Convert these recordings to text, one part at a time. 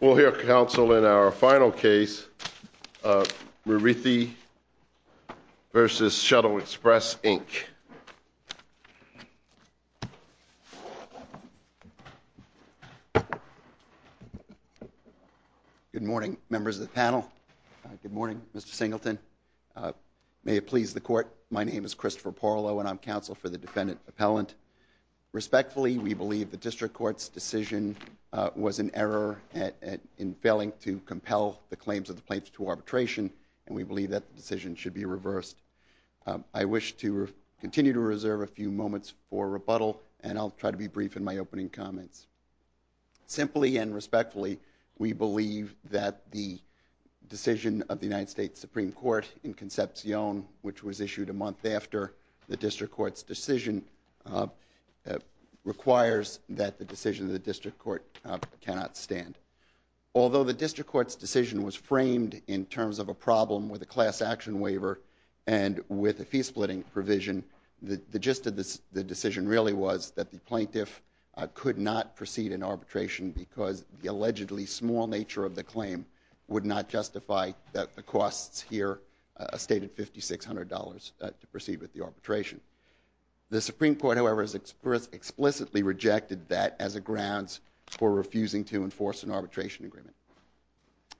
We'll hear counsel in our final case, Muriithi v. Shuttle Express, Inc. Good morning, members of the panel. Good morning, Mr. Singleton. May it please the court, my name is Christopher Porlow and I'm counsel for the defendant appellant. Respectfully, we believe the district court's decision was an error in failing to compel the claims of the plaintiff to arbitration and we believe that the decision should be reversed. I wish to continue to reserve a few moments for rebuttal and I'll try to be brief in my opening comments. Simply and respectfully, we believe that the decision of the United States Supreme Court in Concepcion, which was issued a month after the district court's decision, requires that the decision of the district court cannot stand. Although the district court's decision was framed in terms of a problem with a class action waiver and with a fee splitting provision, the gist of the decision really was that the plaintiff could not proceed in arbitration because the allegedly small nature of the claim would not justify that the costs here stated $5,600 to proceed with the arbitration. The Supreme Court, however, has explicitly rejected that as a grounds for refusing to enforce an arbitration agreement.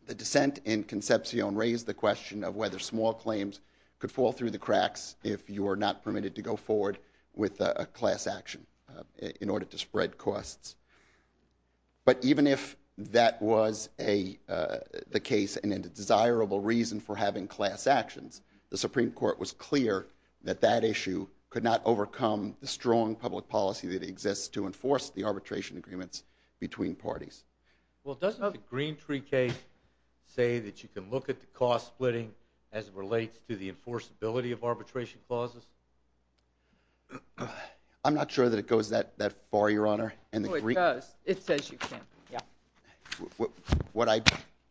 The dissent in Concepcion raised the question of whether small claims could fall through the cracks if you are not permitted to go forward with a class action in order to spread costs. But even if that was the case and a desirable reason for having class actions, the Supreme Court was clear that that issue could not overcome the strong public policy that exists to enforce the arbitration agreements between parties. Well, doesn't the Green Tree case say that you can look at the cost splitting as it relates to the enforceability of arbitration clauses? I'm not sure that it goes that far, Your Honor. Oh, it does. It says you can, yeah. What I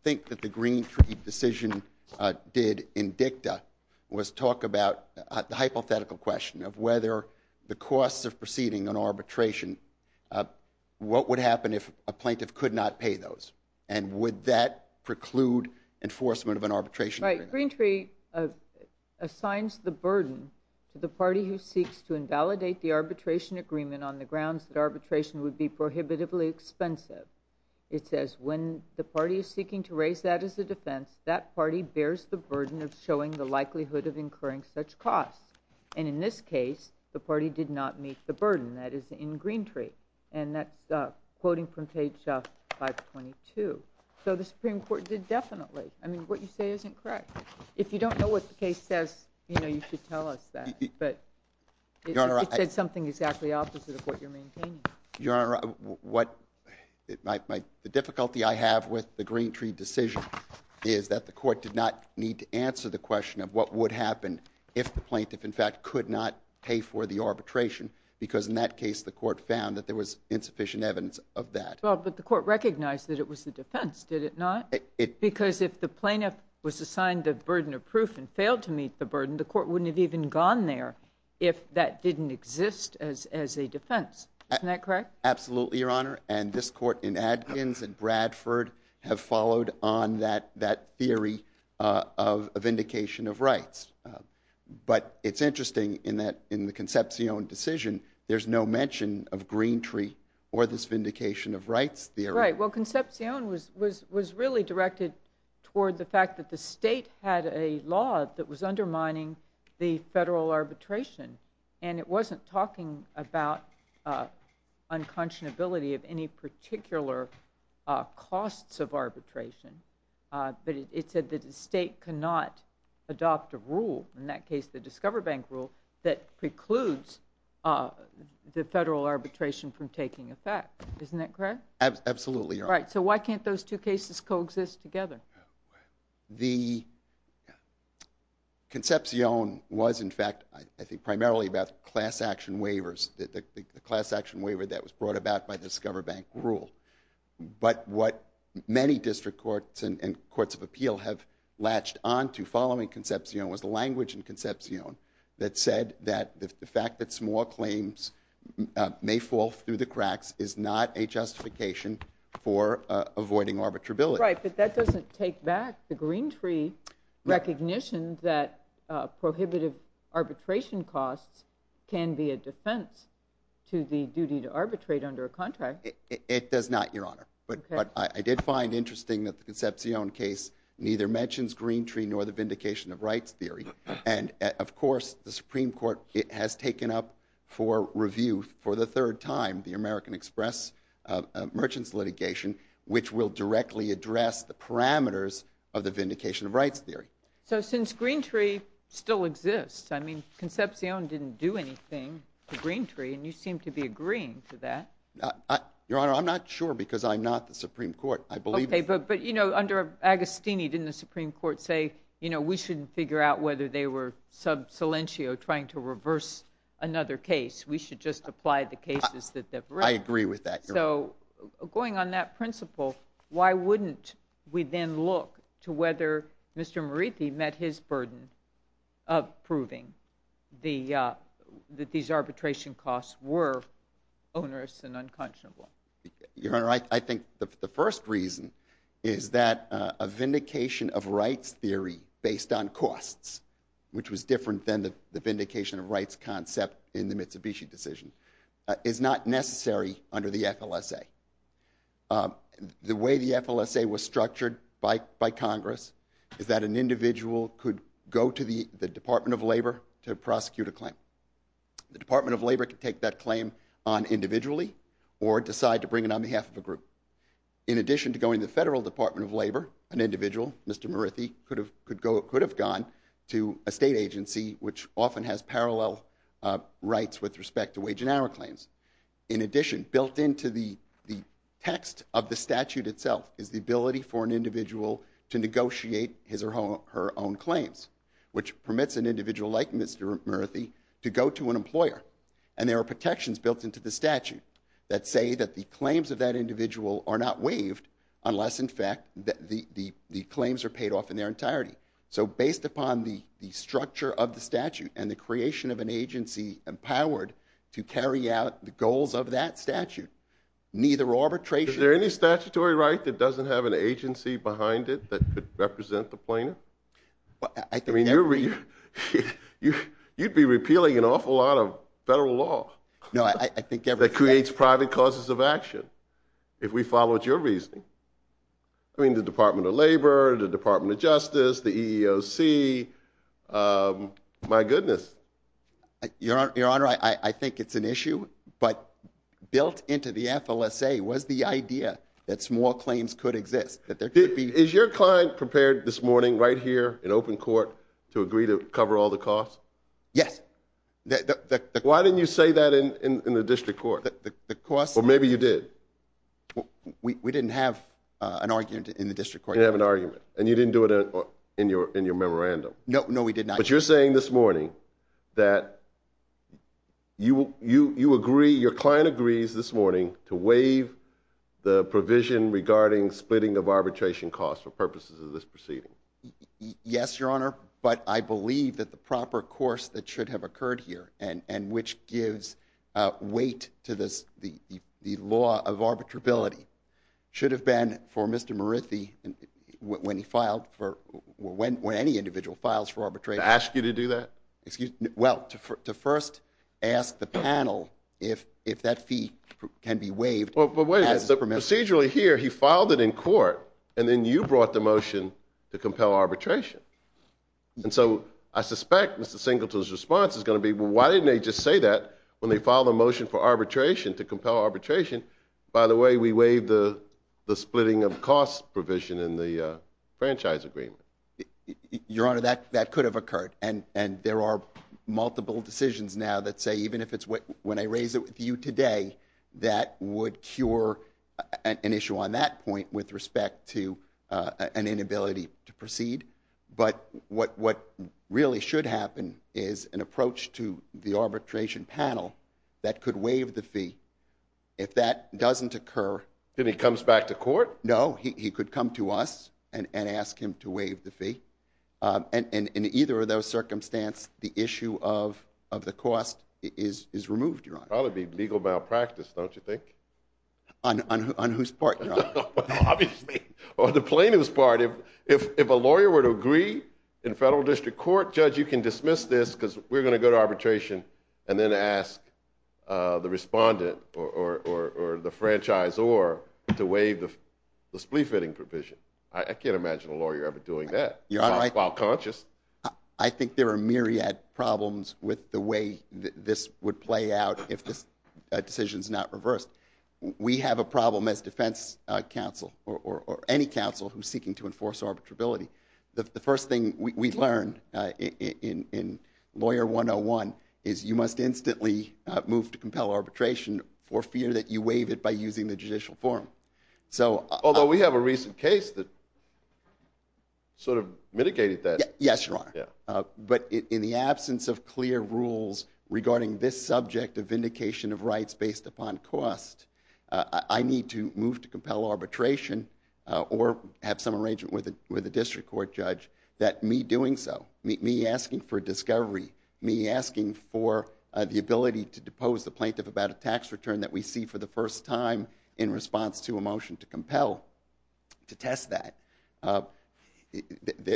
think that the Green Tree decision did in dicta was talk about the hypothetical question of whether the costs of proceeding an arbitration, what would happen if a plaintiff could not pay those? And would that preclude enforcement of an arbitration agreement? The Green Tree assigns the burden to the party who seeks to invalidate the arbitration agreement on the grounds that arbitration would be prohibitively expensive. It says when the party is seeking to raise that as a defense, that party bears the burden of showing the likelihood of incurring such costs. And in this case, the party did not meet the burden. That is in Green Tree. And that's quoting from page 522. So the Supreme Court did definitely. I mean, what you say isn't correct. If you don't know what the case says, you know, you should tell us that. But it said something exactly opposite of what you're maintaining. Your Honor, the difficulty I have with the Green Tree decision is that the court did not need to answer the question of what would happen if the plaintiff, in fact, could not pay for the arbitration. Because in that case, the court found that there was insufficient evidence of that. Well, but the court recognized that it was a defense, did it not? Because if the plaintiff was assigned the burden of proof and failed to meet the burden, the court wouldn't have even gone there if that didn't exist as a defense. Isn't that correct? Absolutely, Your Honor. And this court in Adkins and Bradford have followed on that theory of vindication of rights. But it's interesting in the Concepcion decision, there's no mention of Green Tree or this vindication of rights theory. Right. Well, Concepcion was really directed toward the fact that the state had a law that was undermining the federal arbitration. And it wasn't talking about unconscionability of any particular costs of arbitration. But it said that the state cannot adopt a rule, in that case the Discover Bank rule, that precludes the federal arbitration from taking effect. Isn't that correct? Absolutely, Your Honor. Right. So why can't those two cases coexist together? The Concepcion was, in fact, I think primarily about class action waivers, the class action waiver that was brought about by the Discover Bank rule. But what many district courts and courts of appeal have latched on to following Concepcion was the language in Concepcion that said that the fact that small claims may fall through the cracks is not a justification for avoiding arbitrability. Right. But that doesn't take back the Green Tree recognition that prohibitive arbitration costs can be a defense to the duty to arbitrate under a contract. It does not, Your Honor. But I did find interesting that the Concepcion case neither mentions Green Tree nor the vindication of rights theory. And, of course, the Supreme Court has taken up for review for the third time the American Express merchants litigation, which will directly address the parameters of the vindication of rights theory. So since Green Tree still exists, I mean, Concepcion didn't do anything to Green Tree, and you seem to be agreeing to that. Your Honor, I'm not sure because I'm not the Supreme Court. I believe— Okay, but, you know, under Agostini, didn't the Supreme Court say, you know, we shouldn't figure out whether they were sub silentio trying to reverse another case? We should just apply the cases that they've written. I agree with that, Your Honor. Your Honor, I think the first reason is that a vindication of rights theory based on costs, which was different than the vindication of rights concept in the Mitsubishi decision, is not necessary under the FLSA. The way the FLSA was structured by Congress is that an individual could go to the Department of Labor to prosecute a claim. The Department of Labor could take that claim on individually or decide to bring it on behalf of a group. In addition to going to the Federal Department of Labor, an individual, Mr. Murthy, could have gone to a state agency, which often has parallel rights with respect to wage and hour claims. In addition, built into the text of the statute itself is the ability for an individual to negotiate his or her own claims, which permits an individual like Mr. Murthy to go to an employer. And there are protections built into the statute that say that the claims of that individual are not waived unless, in fact, the claims are paid off in their entirety. So based upon the structure of the statute and the creation of an agency empowered to carry out the goals of that statute, neither arbitration… Is there any statutory right that doesn't have an agency behind it that could represent the plaintiff? I mean, you'd be repealing an awful lot of federal law. No, I think… That creates private causes of action, if we follow your reasoning. I mean, the Department of Labor, the Department of Justice, the EEOC, my goodness. Your Honor, I think it's an issue, but built into the FLSA was the idea that small claims could exist. Is your client prepared this morning right here in open court to agree to cover all the costs? Yes. Why didn't you say that in the district court? The costs… Well, maybe you did. We didn't have an argument in the district court. You didn't have an argument, and you didn't do it in your memorandum. No, we did not. But you're saying this morning that you agree, your client agrees this morning, to waive the provision regarding splitting of arbitration costs for purposes of this proceeding. Yes, Your Honor, but I believe that the proper course that should have occurred here and which gives weight to the law of arbitrability should have been for Mr. Murithy, when any individual files for arbitration… To ask you to do that? Well, to first ask the panel if that fee can be waived. But wait a minute. Procedurally here, he filed it in court, and then you brought the motion to compel arbitration. And so I suspect Mr. Singleton's response is going to be, well, why didn't they just say that when they filed a motion for arbitration, to compel arbitration? By the way, we waived the splitting of cost provision in the franchise agreement. Your Honor, that could have occurred. And there are multiple decisions now that say, even if it's when I raise it with you today, that would cure an issue on that point with respect to an inability to proceed. But what really should happen is an approach to the arbitration panel that could waive the fee if that doesn't occur. Then he comes back to court? No, he could come to us and ask him to waive the fee. And in either of those circumstances, the issue of the cost is removed, Your Honor. That would be legal malpractice, don't you think? On whose part, Your Honor? Obviously, on the plaintiff's part. If a lawyer were to agree in federal district court, Judge, you can dismiss this because we're going to go to arbitration and then ask the respondent or the franchisor to waive the spleefitting provision. I can't imagine a lawyer ever doing that while conscious. I think there are myriad problems with the way this would play out if this decision is not reversed. We have a problem as defense counsel or any counsel who's seeking to enforce arbitrability. The first thing we've learned in Lawyer 101 is you must instantly move to compel arbitration for fear that you waive it by using the judicial forum. Although we have a recent case that sort of mitigated that. Yes, Your Honor. But in the absence of clear rules regarding this subject of vindication of rights based upon cost, I need to move to compel arbitration or have some arrangement with a district court judge that me doing so, me asking for discovery, me asking for the ability to depose the plaintiff about a tax return that we see for the first time in response to a motion to compel to test that.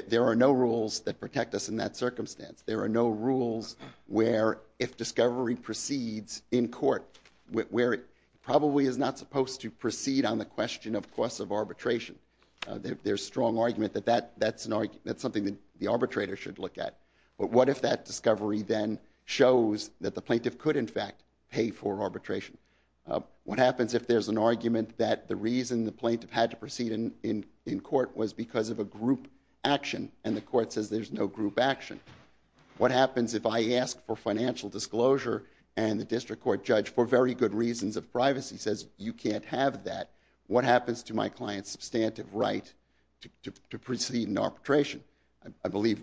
There are no rules that protect us in that circumstance. There are no rules where if discovery proceeds in court, where it probably is not supposed to proceed on the question of cost of arbitration. There's strong argument that that's something the arbitrator should look at. But what if that discovery then shows that the plaintiff could, in fact, pay for arbitration? What happens if there's an argument that the reason the plaintiff had to proceed in court was because of a group action and the court says there's no group action? What happens if I ask for financial disclosure and the district court judge, for very good reasons of privacy, says you can't have that? What happens to my client's substantive right to proceed in arbitration? I believe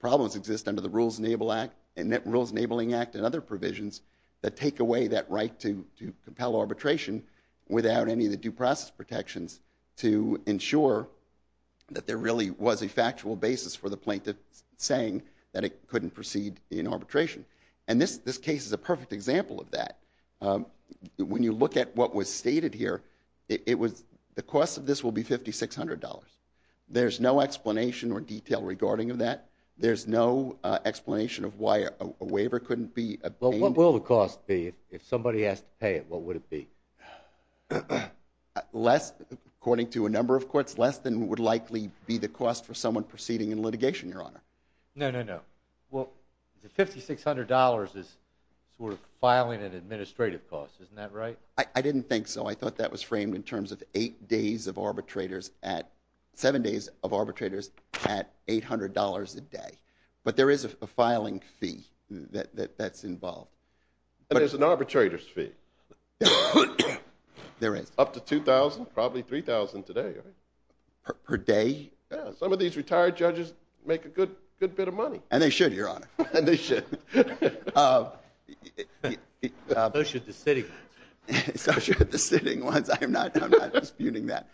problems exist under the Rules Enabling Act and other provisions that take away that right to compel arbitration without any of the due process protections to ensure that there really was a factual basis for the plaintiff saying that it couldn't proceed in arbitration. And this case is a perfect example of that. When you look at what was stated here, the cost of this will be $5,600. There's no explanation or detail regarding that. There's no explanation of why a waiver couldn't be obtained. Well, what will the cost be? If somebody has to pay it, what would it be? Less, according to a number of courts, less than would likely be the cost for someone proceeding in litigation, Your Honor. No, no, no. Well, the $5,600 is sort of filing and administrative costs. Isn't that right? I didn't think so. I thought that was framed in terms of eight days of arbitrators at, seven days of arbitrators at $800 a day. But there is a filing fee that's involved. And there's an arbitrator's fee. There is. Up to $2,000, probably $3,000 today, right? Per day? Yeah. Some of these retired judges make a good bit of money. And they should, Your Honor. And they should. So should the sitting ones. So should the sitting ones. I'm not disputing that.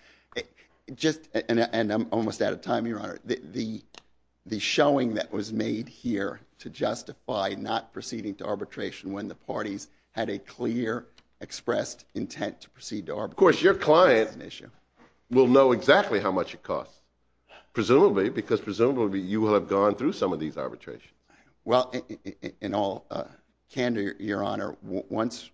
And I'm almost out of time, Your Honor. The showing that was made here to justify not proceeding to arbitration when the parties had a clear, expressed intent to proceed to arbitration. Of course, your client will know exactly how much it costs. Presumably, because presumably you have gone through some of these arbitrations. Well, in all candor, Your Honor, once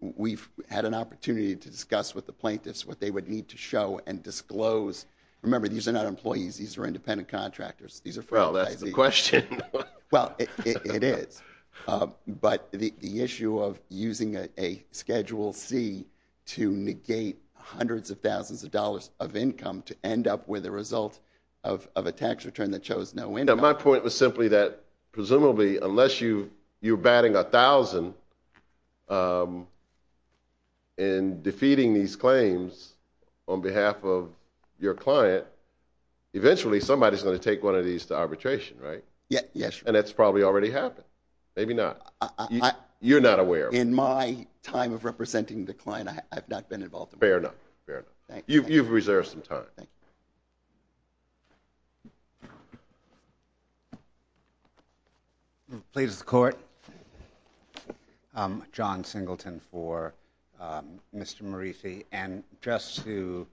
we've had an opportunity to discuss with the plaintiffs what they would need to show and disclose. Remember, these are not employees. These are independent contractors. Well, that's the question. Well, it is. But the issue of using a Schedule C to negate hundreds of thousands of dollars of income to end up with a result of a tax return that shows no income. My point was simply that, presumably, unless you're batting a thousand and defeating these claims on behalf of your client, eventually somebody is going to take one of these to arbitration, right? Yes. And that's probably already happened. Maybe not. You're not aware. In my time of representing the client, I've not been involved. Fair enough. You've reserved some time. Thank you. Plaintiff's Court. John Singleton for Mr. Morisi. And just to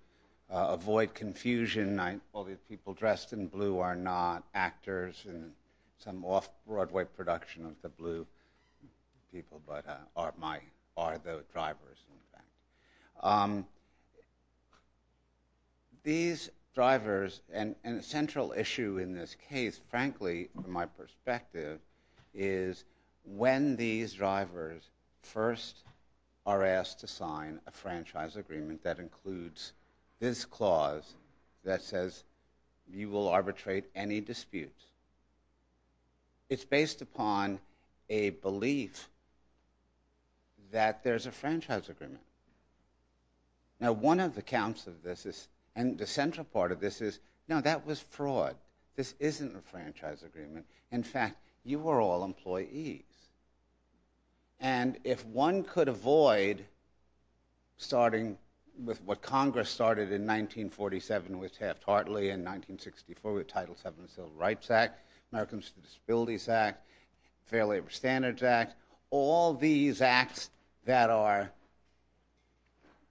avoid confusion, all these people dressed in blue are not actors in some off-Broadway production of the blue people, but are the drivers. These drivers, and a central issue in this case, frankly, from my perspective, is when these drivers first are asked to sign a franchise agreement that includes this clause that says you will arbitrate any dispute. It's based upon a belief that there's a franchise agreement. Now, one of the counts of this is, and the central part of this is, no, that was fraud. This isn't a franchise agreement. In fact, you were all employees. And if one could avoid starting with what Congress started in 1947 with Taft-Hartley and 1964 with the Title VII Civil Rights Act, Americans with Disabilities Act, Fair Labor Standards Act, all these acts that are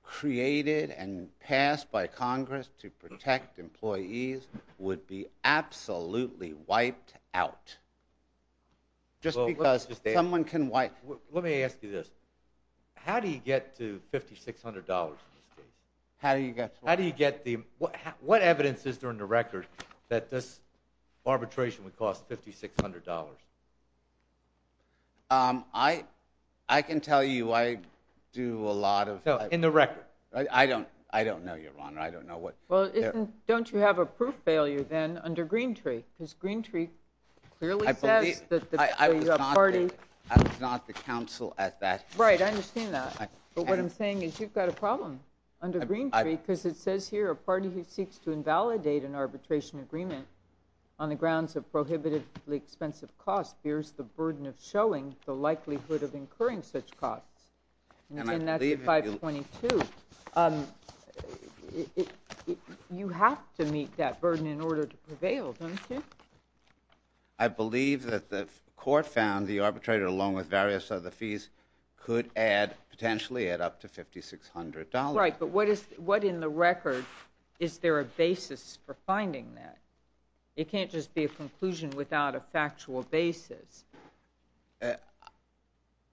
created and passed by Congress to protect employees would be absolutely wiped out. Just because someone can wipe... Let me ask you this. How do you get to $5,600 in this case? How do you get to what? How do you get the... What evidence is there in the record that this arbitration would cost $5,600? I can tell you I do a lot of... So, in the record, right? I don't know, Your Honor. I don't know what... Well, don't you have a proof failure then under Greentree? Because Greentree clearly says that the party... I was not the counsel at that time. Right. I understand that. But what I'm saying is you've got a problem under Greentree because it says here, a party who seeks to invalidate an arbitration agreement on the grounds of prohibitively expensive costs bears the burden of showing the likelihood of incurring such costs. And that's 522. You have to meet that burden in order to prevail, don't you? I believe that the court found the arbitrator, along with various other fees, could potentially add up to $5,600. Right, but what in the record... Is there a basis for finding that? It can't just be a conclusion without a factual basis.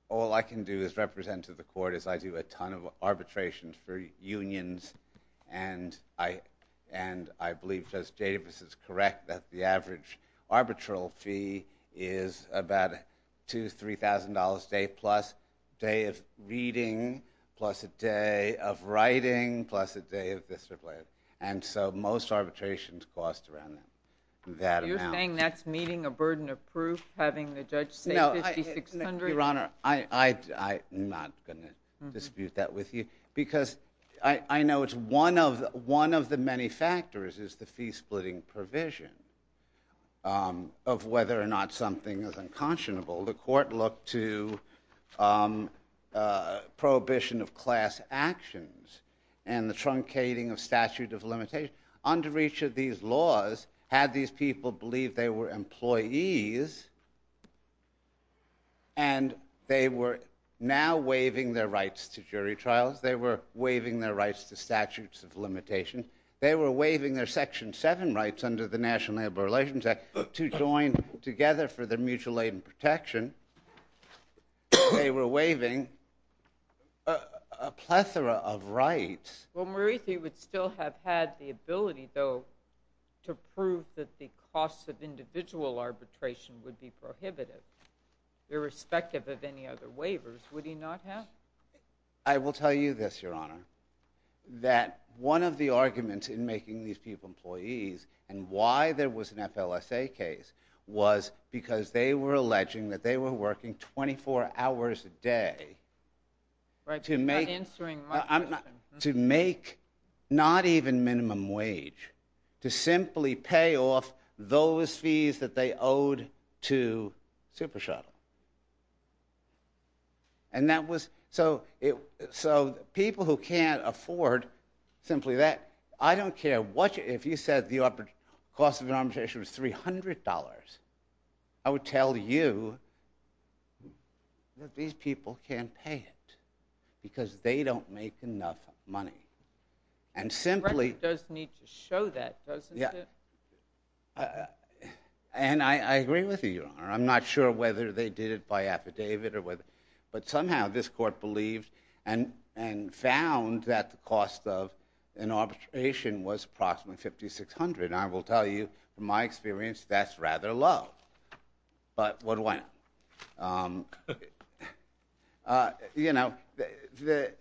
All I can do as representative of the court is I do a ton of arbitrations for unions, and I believe, as Davis is correct, that the average arbitral fee is about $2,000 to $3,000 a day, plus a day of reading, plus a day of writing, plus a day of this or that. And so most arbitrations cost around that amount. So you're saying that's meeting a burden of proof, having the judge say $5,600? Your Honor, I'm not going to dispute that with you, because I know one of the many factors is the fee-splitting provision of whether or not something is unconscionable. The court looked to prohibition of class actions and the truncating of statute of limitations. Under each of these laws, had these people believed they were employees and they were now waiving their rights to jury trials, they were waiving their rights to statutes of limitations, they were waiving their Section 7 rights under the National Labor Relations Act to join together for their mutual aid and protection, they were waiving a plethora of rights. Well, Maritha, you would still have had the ability, though, to prove that the costs of individual arbitration would be prohibitive, irrespective of any other waivers, would he not have? I will tell you this, Your Honor, that one of the arguments in making these people employees and why there was an FLSA case was because they were alleging that they were working 24 hours a day to make... You're not answering my question. To make not even minimum wage, to simply pay off those fees that they owed to Super Shuttle. And that was... So people who can't afford simply that, I don't care what... If you said the cost of arbitration was $300, I would tell you that these people can't pay it, because they don't make enough money. And simply... The record does need to show that, doesn't it? And I agree with you, Your Honor. I'm not sure whether they did it by affidavit or whether... But somehow this court believed and found that the cost of an arbitration was approximately $5,600. I will tell you, from my experience, that's rather low. But why not? Um... You know, the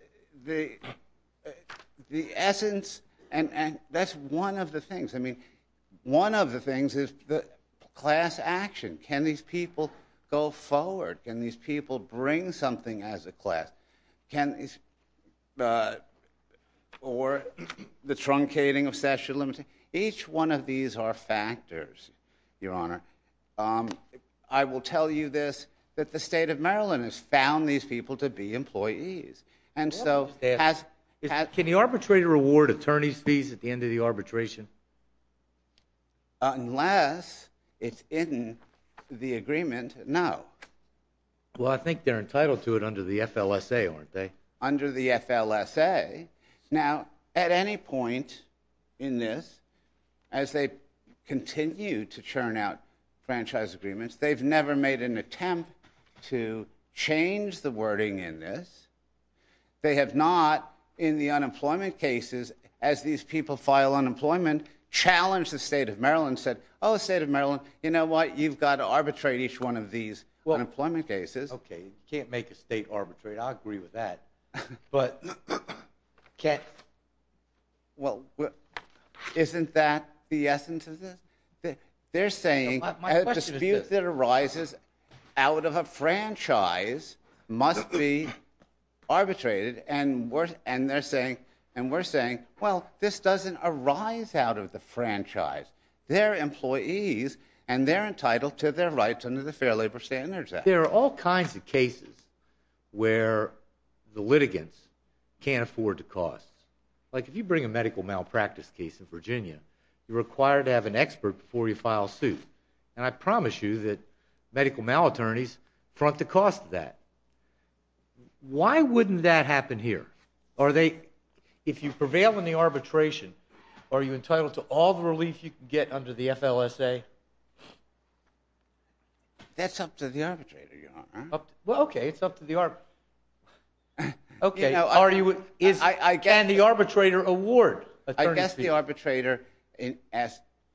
essence... And that's one of the things. I mean, one of the things is the class action. Can these people go forward? Can these people bring something as a class? Can... Or the truncating of statute of limitations. Each one of these are factors, Your Honor. I will tell you this, that the state of Maryland has found these people to be employees. And so... Can the arbitrator award attorney's fees at the end of the arbitration? Unless it's in the agreement, no. Well, I think they're entitled to it under the FLSA, aren't they? Under the FLSA. Now, at any point in this, as they continue to churn out franchise agreements, they've never made an attempt to change the wording in this. They have not, in the unemployment cases, as these people file unemployment, challenged the state of Maryland, said, oh, the state of Maryland, you know what? You've got to arbitrate each one of these unemployment cases. Okay, you can't make a state arbitrate. I'll agree with that. But... Well, isn't that the essence of this? They're saying a dispute that arises out of a franchise must be arbitrated, and they're saying, and we're saying, well, this doesn't arise out of the franchise. They're employees, and they're entitled to their rights under the Fair Labor Standards Act. There are all kinds of cases where the litigants can't afford to cost. Like, if you bring a medical malpractice case in Virginia, you're required to have an expert before you file a suit, and I promise you that medical malattorneys front the cost of that. Why wouldn't that happen here? Are they... If you prevail in the arbitration, are you entitled to all the relief you can get under the FLSA? That's up to the arbitrator, Your Honor. Well, okay, it's up to the... Okay, are you... And the arbitrator award attorney's fees. I guess the arbitrator,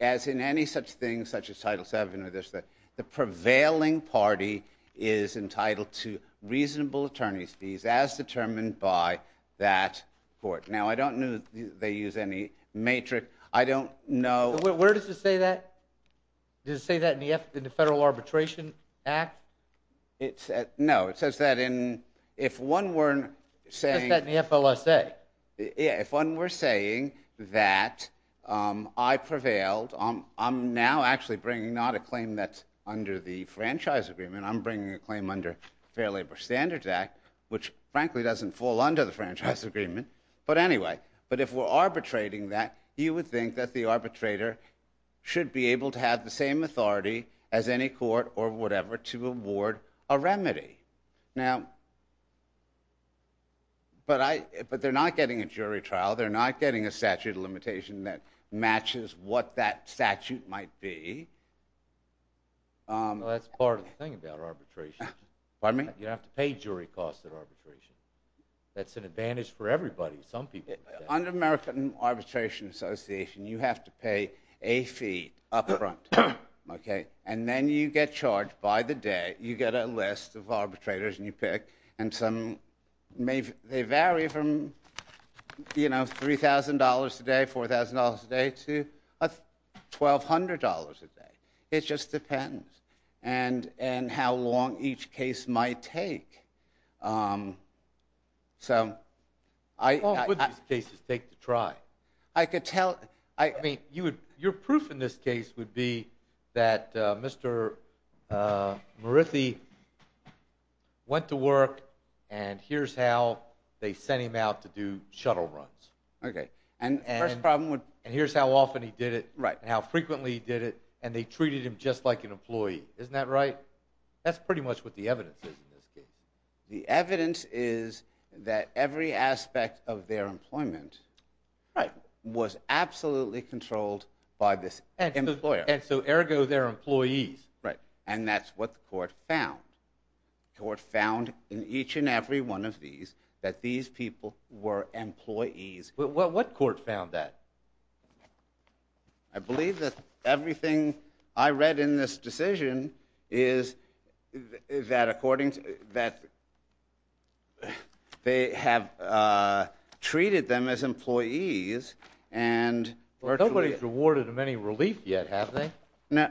as in any such thing, such as Title VII or this, the prevailing party is entitled to reasonable attorney's fees as determined by that court. Now, I don't know that they use any matrix. I don't know... Where does it say that? Does it say that in the Federal Arbitration Act? No, it says that in... If one were saying... It says that in the FLSA. Yeah, if one were saying that I prevailed, I'm now actually bringing not a claim that's under the Franchise Agreement, I'm bringing a claim under the Fair Labor Standards Act, which, frankly, doesn't fall under the Franchise Agreement. But anyway, but if we're arbitrating that, you would think that the arbitrator should be able to have the same authority as any court or whatever to award a remedy. Now... But they're not getting a jury trial. They're not getting a statute of limitation that matches what that statute might be. That's part of the thing about arbitration. Pardon me? You have to pay jury costs at arbitration. That's an advantage for everybody. Some people... Under American Arbitration Association, you have to pay a fee up front. And then you get charged by the day. You get a list of arbitrators, and you pick. And some may vary from, you know, $3,000 a day, $4,000 a day, to $1,200 a day. It just depends. And how long each case might take. So... How long would these cases take to try? I could tell... I mean, your proof in this case would be that Mr. Murithy went to work, and here's how they sent him out to do shuttle runs. Okay. And the first problem would... And here's how often he did it, and how frequently he did it, and they treated him just like an employee. Isn't that right? That's pretty much what the evidence is in this case. The evidence is that every aspect of their employment was absolutely controlled by this employer. And so, ergo, they're employees. Right. And that's what the court found. The court found in each and every one of these that these people were employees. What court found that? I believe that everything I read in this decision is that according to... they have treated them as employees, and... Nobody's rewarded them any relief yet, have they? No.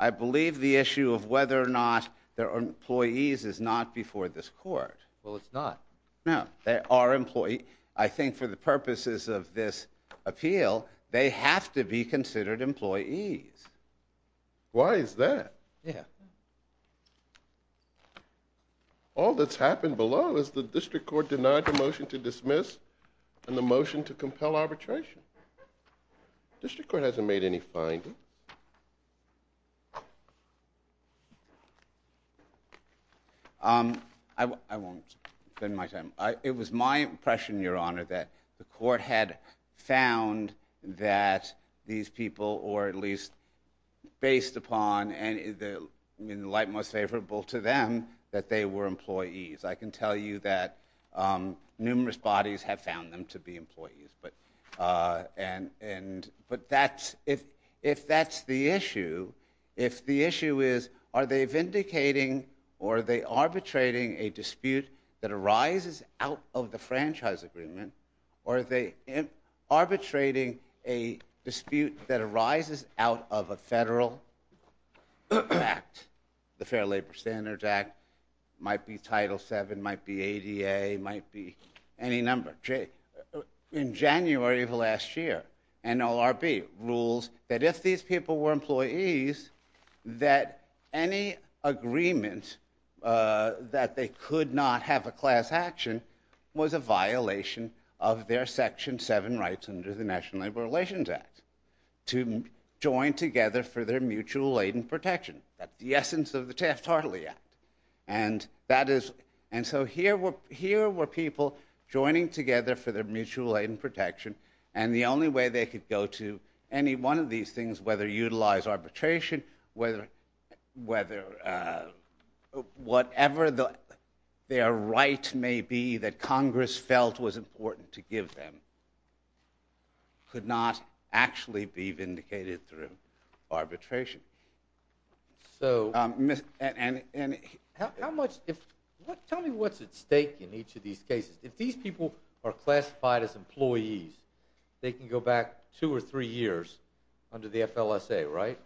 I believe the issue of whether or not they're employees is not before this court. Well, it's not. No, they are employees. I think for the purposes of this appeal, they have to be considered employees. Why is that? Yeah. All that's happened below is the district court denied the motion to dismiss and the motion to compel arbitration. District court hasn't made any findings. I won't spend my time. It was my impression, Your Honor, that the court had found that these people, or at least based upon, in the light most favorable to them, that they were employees. I can tell you that numerous bodies have found them to be employees, but if that's the issue, if the issue is are they vindicating or are they arbitrating a dispute that arises out of the franchise agreement, or are they arbitrating a dispute that arises out of a federal act, the Fair Labor Standards Act, might be Title VII, might be ADA, might be any number. In January of last year, NLRB rules that if these people were employees, that any agreement that they could not have a class action was a violation of their Section VII rights under the National Labor Relations Act to join together for their mutual aid and protection. That's the essence of the Taft-Hartley Act. And so here were people joining together for their mutual aid and protection, and the only way they could go to any one of these things, whether utilize arbitration, whether whatever their right may be that Congress felt was important to give them, could not actually be vindicated through arbitration. Tell me what's at stake in each of these cases. If these people are classified as employees, they can go back two or three years under the FLSA, right?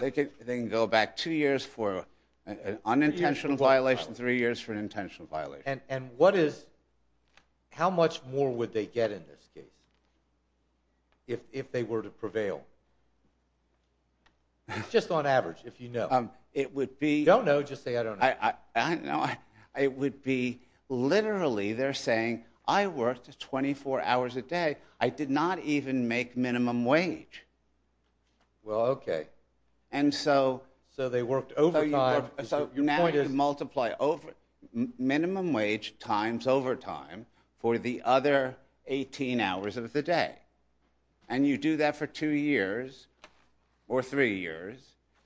They can go back two years for an unintentional violation, three years for an intentional violation. And how much more would they get in this case if they were to prevail? Just on average, if you know. Don't know, just say I don't know. I don't know. It would be literally, they're saying, I worked 24 hours a day. I did not even make minimum wage. Well, okay. So they worked overtime. So now you multiply minimum wage times overtime for the other 18 hours of the day. And you do that for two years or three years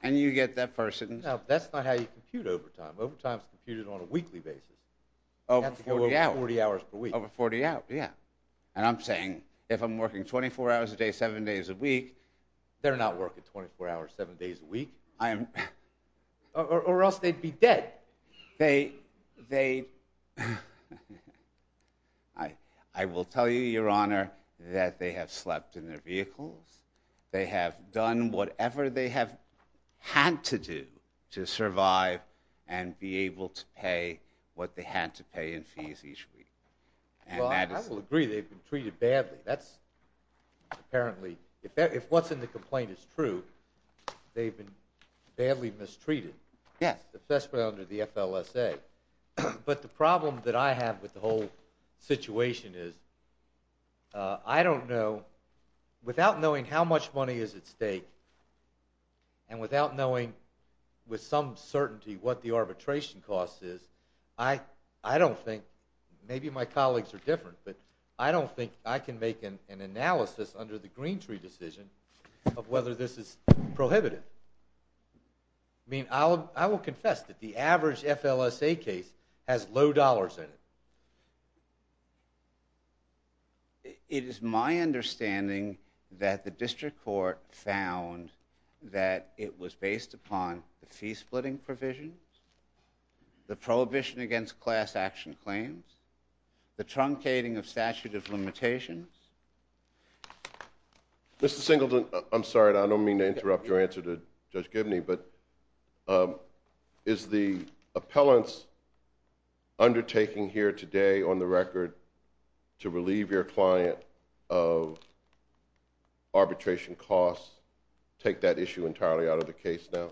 and you get that person. That's not how you compute overtime. Overtime is computed on a weekly basis. Over 40 hours per week. Over 40 hours, yeah. And I'm saying if I'm working 24 hours a day, seven days a week, they're not working 24 hours, seven days a week. Or else they'd be dead. I will tell you, Your Honor, that they have slept in their vehicles. They have done whatever they have had to do to survive and be able to pay what they had to pay in fees each week. Well, I will agree they've been treated badly. That's apparently, if what's in the complaint is true, they've been badly mistreated. Yes. Especially under the FLSA. But the problem that I have with the whole situation is I don't know, without knowing how much money is at stake, and without knowing with some certainty what the arbitration cost is, I don't think, maybe my colleagues are different, but I don't think I can make an analysis under the Green Tree decision of whether this is prohibitive. I mean, I will confess that the average FLSA case has low dollars in it. It is my understanding that the district court found that it was based upon the fee-splitting provisions, the prohibition against class-action claims, the truncating of statute of limitations. Mr. Singleton, I'm sorry, and I don't mean to interrupt your answer to Judge Gibney, but is the appellant's undertaking here today on the record to relieve your client of arbitration costs take that issue entirely out of the case now?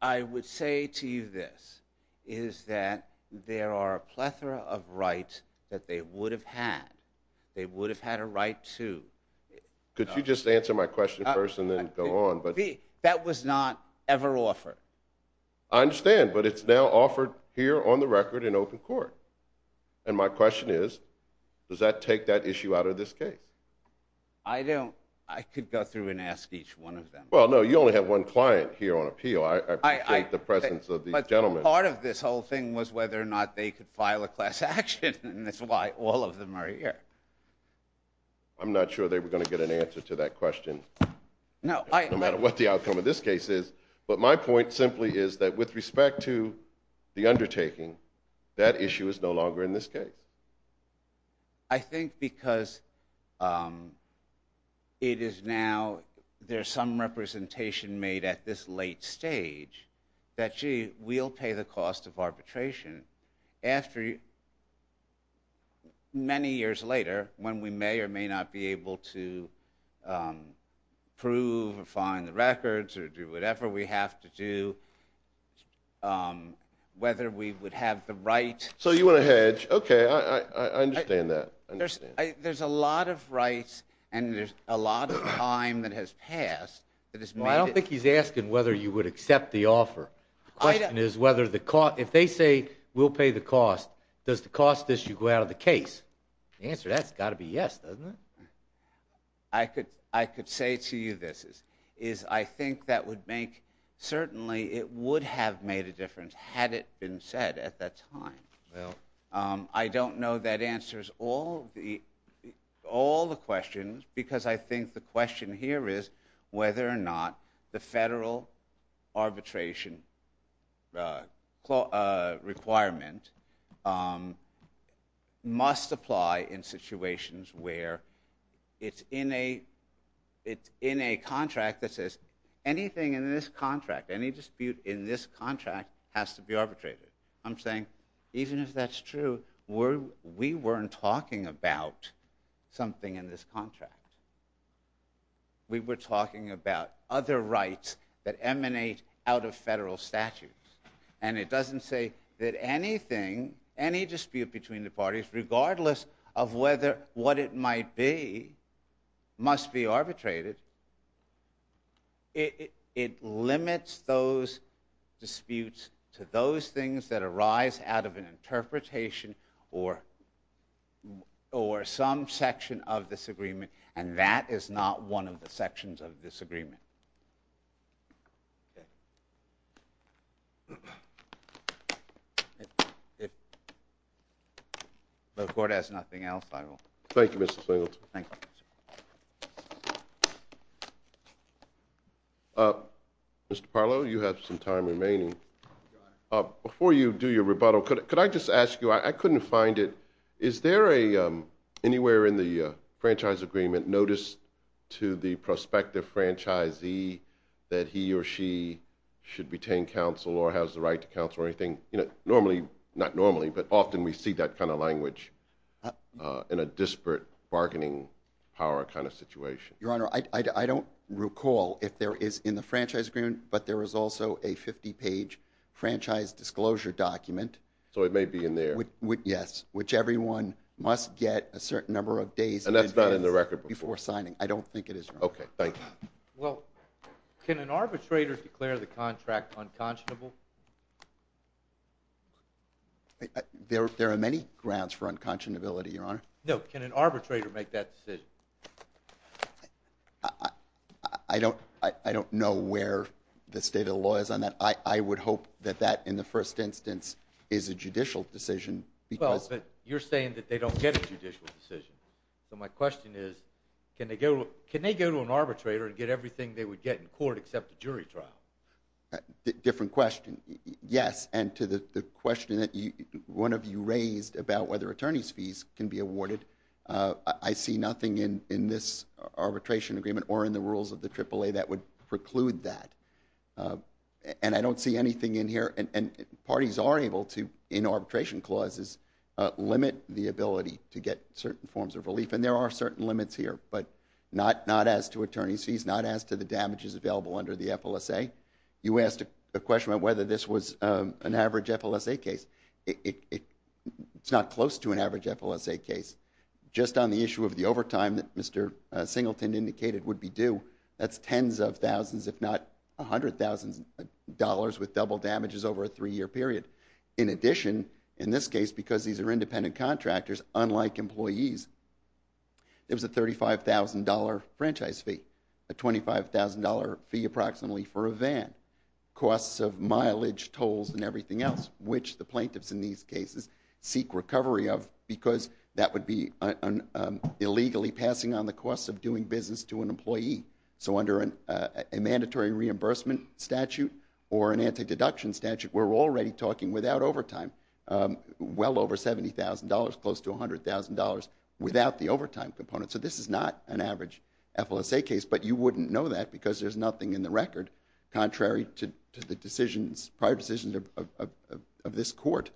I would say to you this, is that there are a plethora of rights that they would have had. They would have had a right to. Could you just answer my question first and then go on? That was not ever offered. I understand, but it's now offered here on the record in open court, and my question is, does that take that issue out of this case? I don't... I could go through and ask each one of them. Well, no, you only have one client here on appeal. I appreciate the presence of these gentlemen. But part of this whole thing was whether or not they could file a class action, and that's why all of them are here. I'm not sure they were going to get an answer to that question, no matter what the outcome of this case is. But my point simply is that with respect to the undertaking, that issue is no longer in this case. I think because it is now... there's some representation made at this late stage that, gee, we'll pay the cost of arbitration after many years later, when we may or may not be able to prove or find the records or do whatever we have to do, whether we would have the right... So you want to hedge? Okay, I understand that. There's a lot of rights, and there's a lot of time that has passed that has made it... Well, I don't think he's asking whether you would accept the offer. The question is whether the cost... If they say, we'll pay the cost, does the cost issue go out of the case? The answer to that has got to be yes, doesn't it? I could say to you this, is I think that would make... Certainly it would have made a difference had it been said at that time. I don't know that answers all the questions, because I think the question here is whether or not the federal arbitration requirement must apply in situations where it's in a contract that says, anything in this contract, any dispute in this contract, has to be arbitrated. I'm saying, even if that's true, we weren't talking about something in this contract. We were talking about other rights that emanate out of federal statutes. And it doesn't say that anything, any dispute between the parties, regardless of what it might be, must be arbitrated. It limits those disputes to those things that arise out of an interpretation or some section of this agreement, and that is not one of the sections of this agreement. If the court has nothing else, I will... Thank you, Mr. Singleton. Mr. Parlow, you have some time remaining. Before you do your rebuttal, could I just ask you, I couldn't find it, is there anywhere in the franchise agreement notice to the prospective franchisee that he or she should retain counsel or has the right to counsel or anything? Normally, not normally, but often we see that kind of language in a disparate bargaining power kind of situation. Your Honor, I don't recall if there is in the franchise agreement, but there is also a 50-page franchise disclosure document. So it may be in there. Yes, which everyone must get a certain number of days... And that's not in the record book. ...before signing. I don't think it is, Your Honor. Okay, thank you. Well, can an arbitrator declare the contract unconscionable? There are many grounds for unconscionability, Your Honor. No, can an arbitrator make that decision? I don't know where the state of the law is on that. I would hope that that, in the first instance, is a judicial decision because... Well, but you're saying that they don't get a judicial decision. So my question is, can they go to an arbitrator and get everything they would get in court except a jury trial? Different question. Yes, and to the question that one of you raised about whether attorney's fees can be awarded, I see nothing in this arbitration agreement or in the rules of the AAA that would preclude that. And I don't see anything in here, and parties are able to, in arbitration clauses, limit the ability to get certain forms of relief. And there are certain limits here, but not as to attorney's fees, not as to the damages available under the FLSA. You asked a question about whether this was an average FLSA case. It's not close to an average FLSA case. Just on the issue of the overtime that Mr. Singleton indicated would be due, that's tens of thousands, if not $100,000, with double damages over a three-year period. In addition, in this case, because these are independent contractors, unlike employees, there's a $35,000 franchise fee, a $25,000 fee approximately for a van, costs of mileage, tolls, and everything else, which the plaintiffs in these cases seek recovery of because that would be illegally passing on the costs of doing business to an employee. So under a mandatory reimbursement statute or an anti-deduction statute, we're already talking without overtime, well over $70,000, close to $100,000 without the overtime component. So this is not an average FLSA case, but you wouldn't know that because there's nothing in the record contrary to the decisions, prior decisions of this court.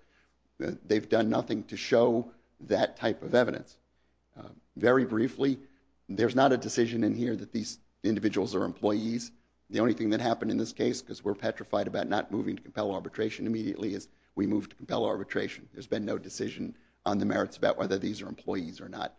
Very briefly, there's not a decision in here that these individuals are employees. The only thing that happened in this case, because we're petrified about not moving to compel arbitration immediately, is we moved to compel arbitration. There's been no decision on the merits about whether these are employees or not.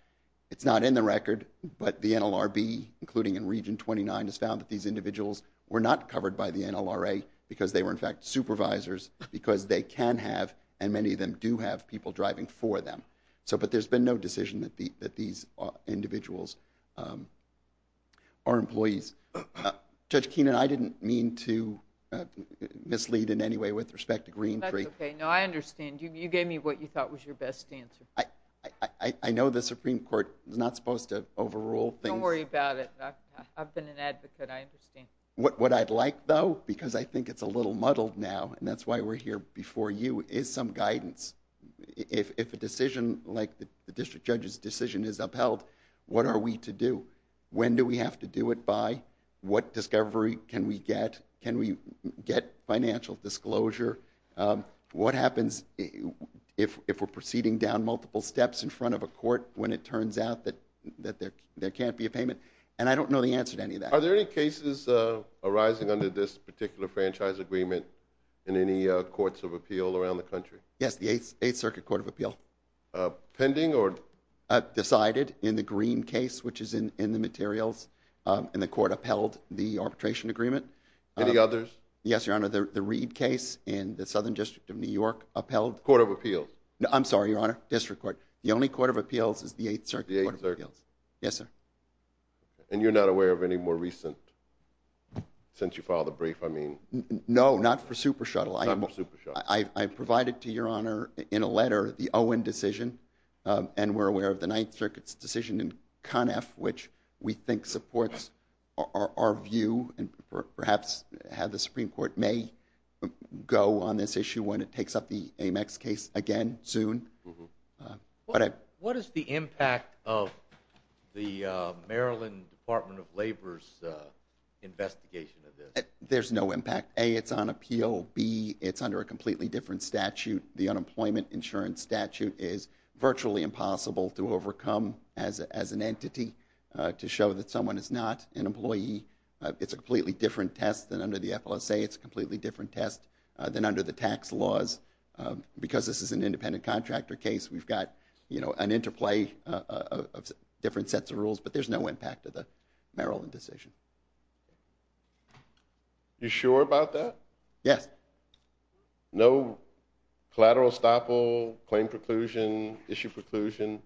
It's not in the record, but the NLRB, including in Region 29, has found that these individuals were not covered by the NLRA because they were, in fact, supervisors, because they can have, and many of them do have, people driving for them. But there's been no decision that these individuals are employees. Judge Keenan, I didn't mean to mislead in any way with respect to Green Creek. That's okay. No, I understand. You gave me what you thought was your best answer. I know the Supreme Court is not supposed to overrule things. Don't worry about it. I've been an advocate. I understand. What I'd like, though, because I think it's a little muddled now, and that's why we're here before you, is some guidance. If a decision like the district judge's decision is upheld, what are we to do? When do we have to do it by? What discovery can we get? Can we get financial disclosure? What happens if we're proceeding down multiple steps in front of a court when it turns out that there can't be a payment? And I don't know the answer to any of that. Are there any cases arising under this particular franchise agreement in any courts of appeal around the country? Yes, the 8th Circuit Court of Appeal. Pending or...? Decided in the Green case, which is in the materials, and the court upheld the arbitration agreement. Any others? Yes, Your Honor, the Reed case in the Southern District of New York upheld... Court of Appeals. I'm sorry, Your Honor, District Court. The only court of appeals is the 8th Circuit Court of Appeals. The 8th Circuit. Yes, sir. And you're not aware of any more recent, since you filed the brief, I mean... No, not for Super Shuttle. Not for Super Shuttle. I provided to Your Honor in a letter the Owen decision, and we're aware of the 9th Circuit's decision in CONF, which we think supports our view and perhaps how the Supreme Court may go on this issue when it takes up the Amex case again soon. What is the impact of the Maryland Department of Labor's investigation of this? There's no impact. A, it's on appeal. B, it's under a completely different statute. The unemployment insurance statute is virtually impossible to overcome as an entity to show that someone is not an employee. It's a completely different test than under the FLSA. It's a completely different test than under the tax laws. Because this is an independent contractor case, we've got, you know, an interplay of different sets of rules, but there's no impact of the Maryland decision. You sure about that? Yes. No collateral estoppel, claim preclusion, issue preclusion?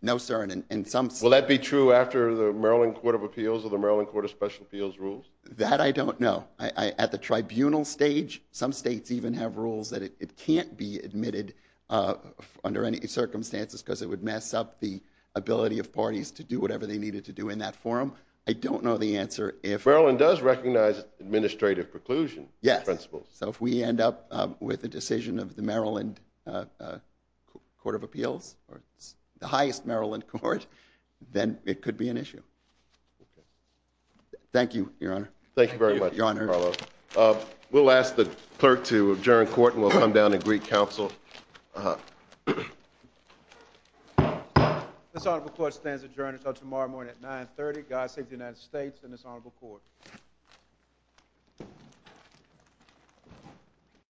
No, sir, and some... Will that be true after the Maryland Court of Appeals or the Maryland Court of Special Appeals rules? That I don't know. At the tribunal stage, some states even have rules that it can't be admitted under any circumstances because it would mess up the ability of parties to do whatever they needed to do in that forum. I don't know the answer if... So if we end up with a decision of the Maryland Court of Appeals or the highest Maryland court, then it could be an issue. Okay. Thank you, Your Honor. Thank you very much, Mr. Carlo. We'll ask the clerk to adjourn court and we'll come down to Greek Council. This honorable court stands adjourned until tomorrow morning at 9.30. God save the United States and this honorable court. Thank you.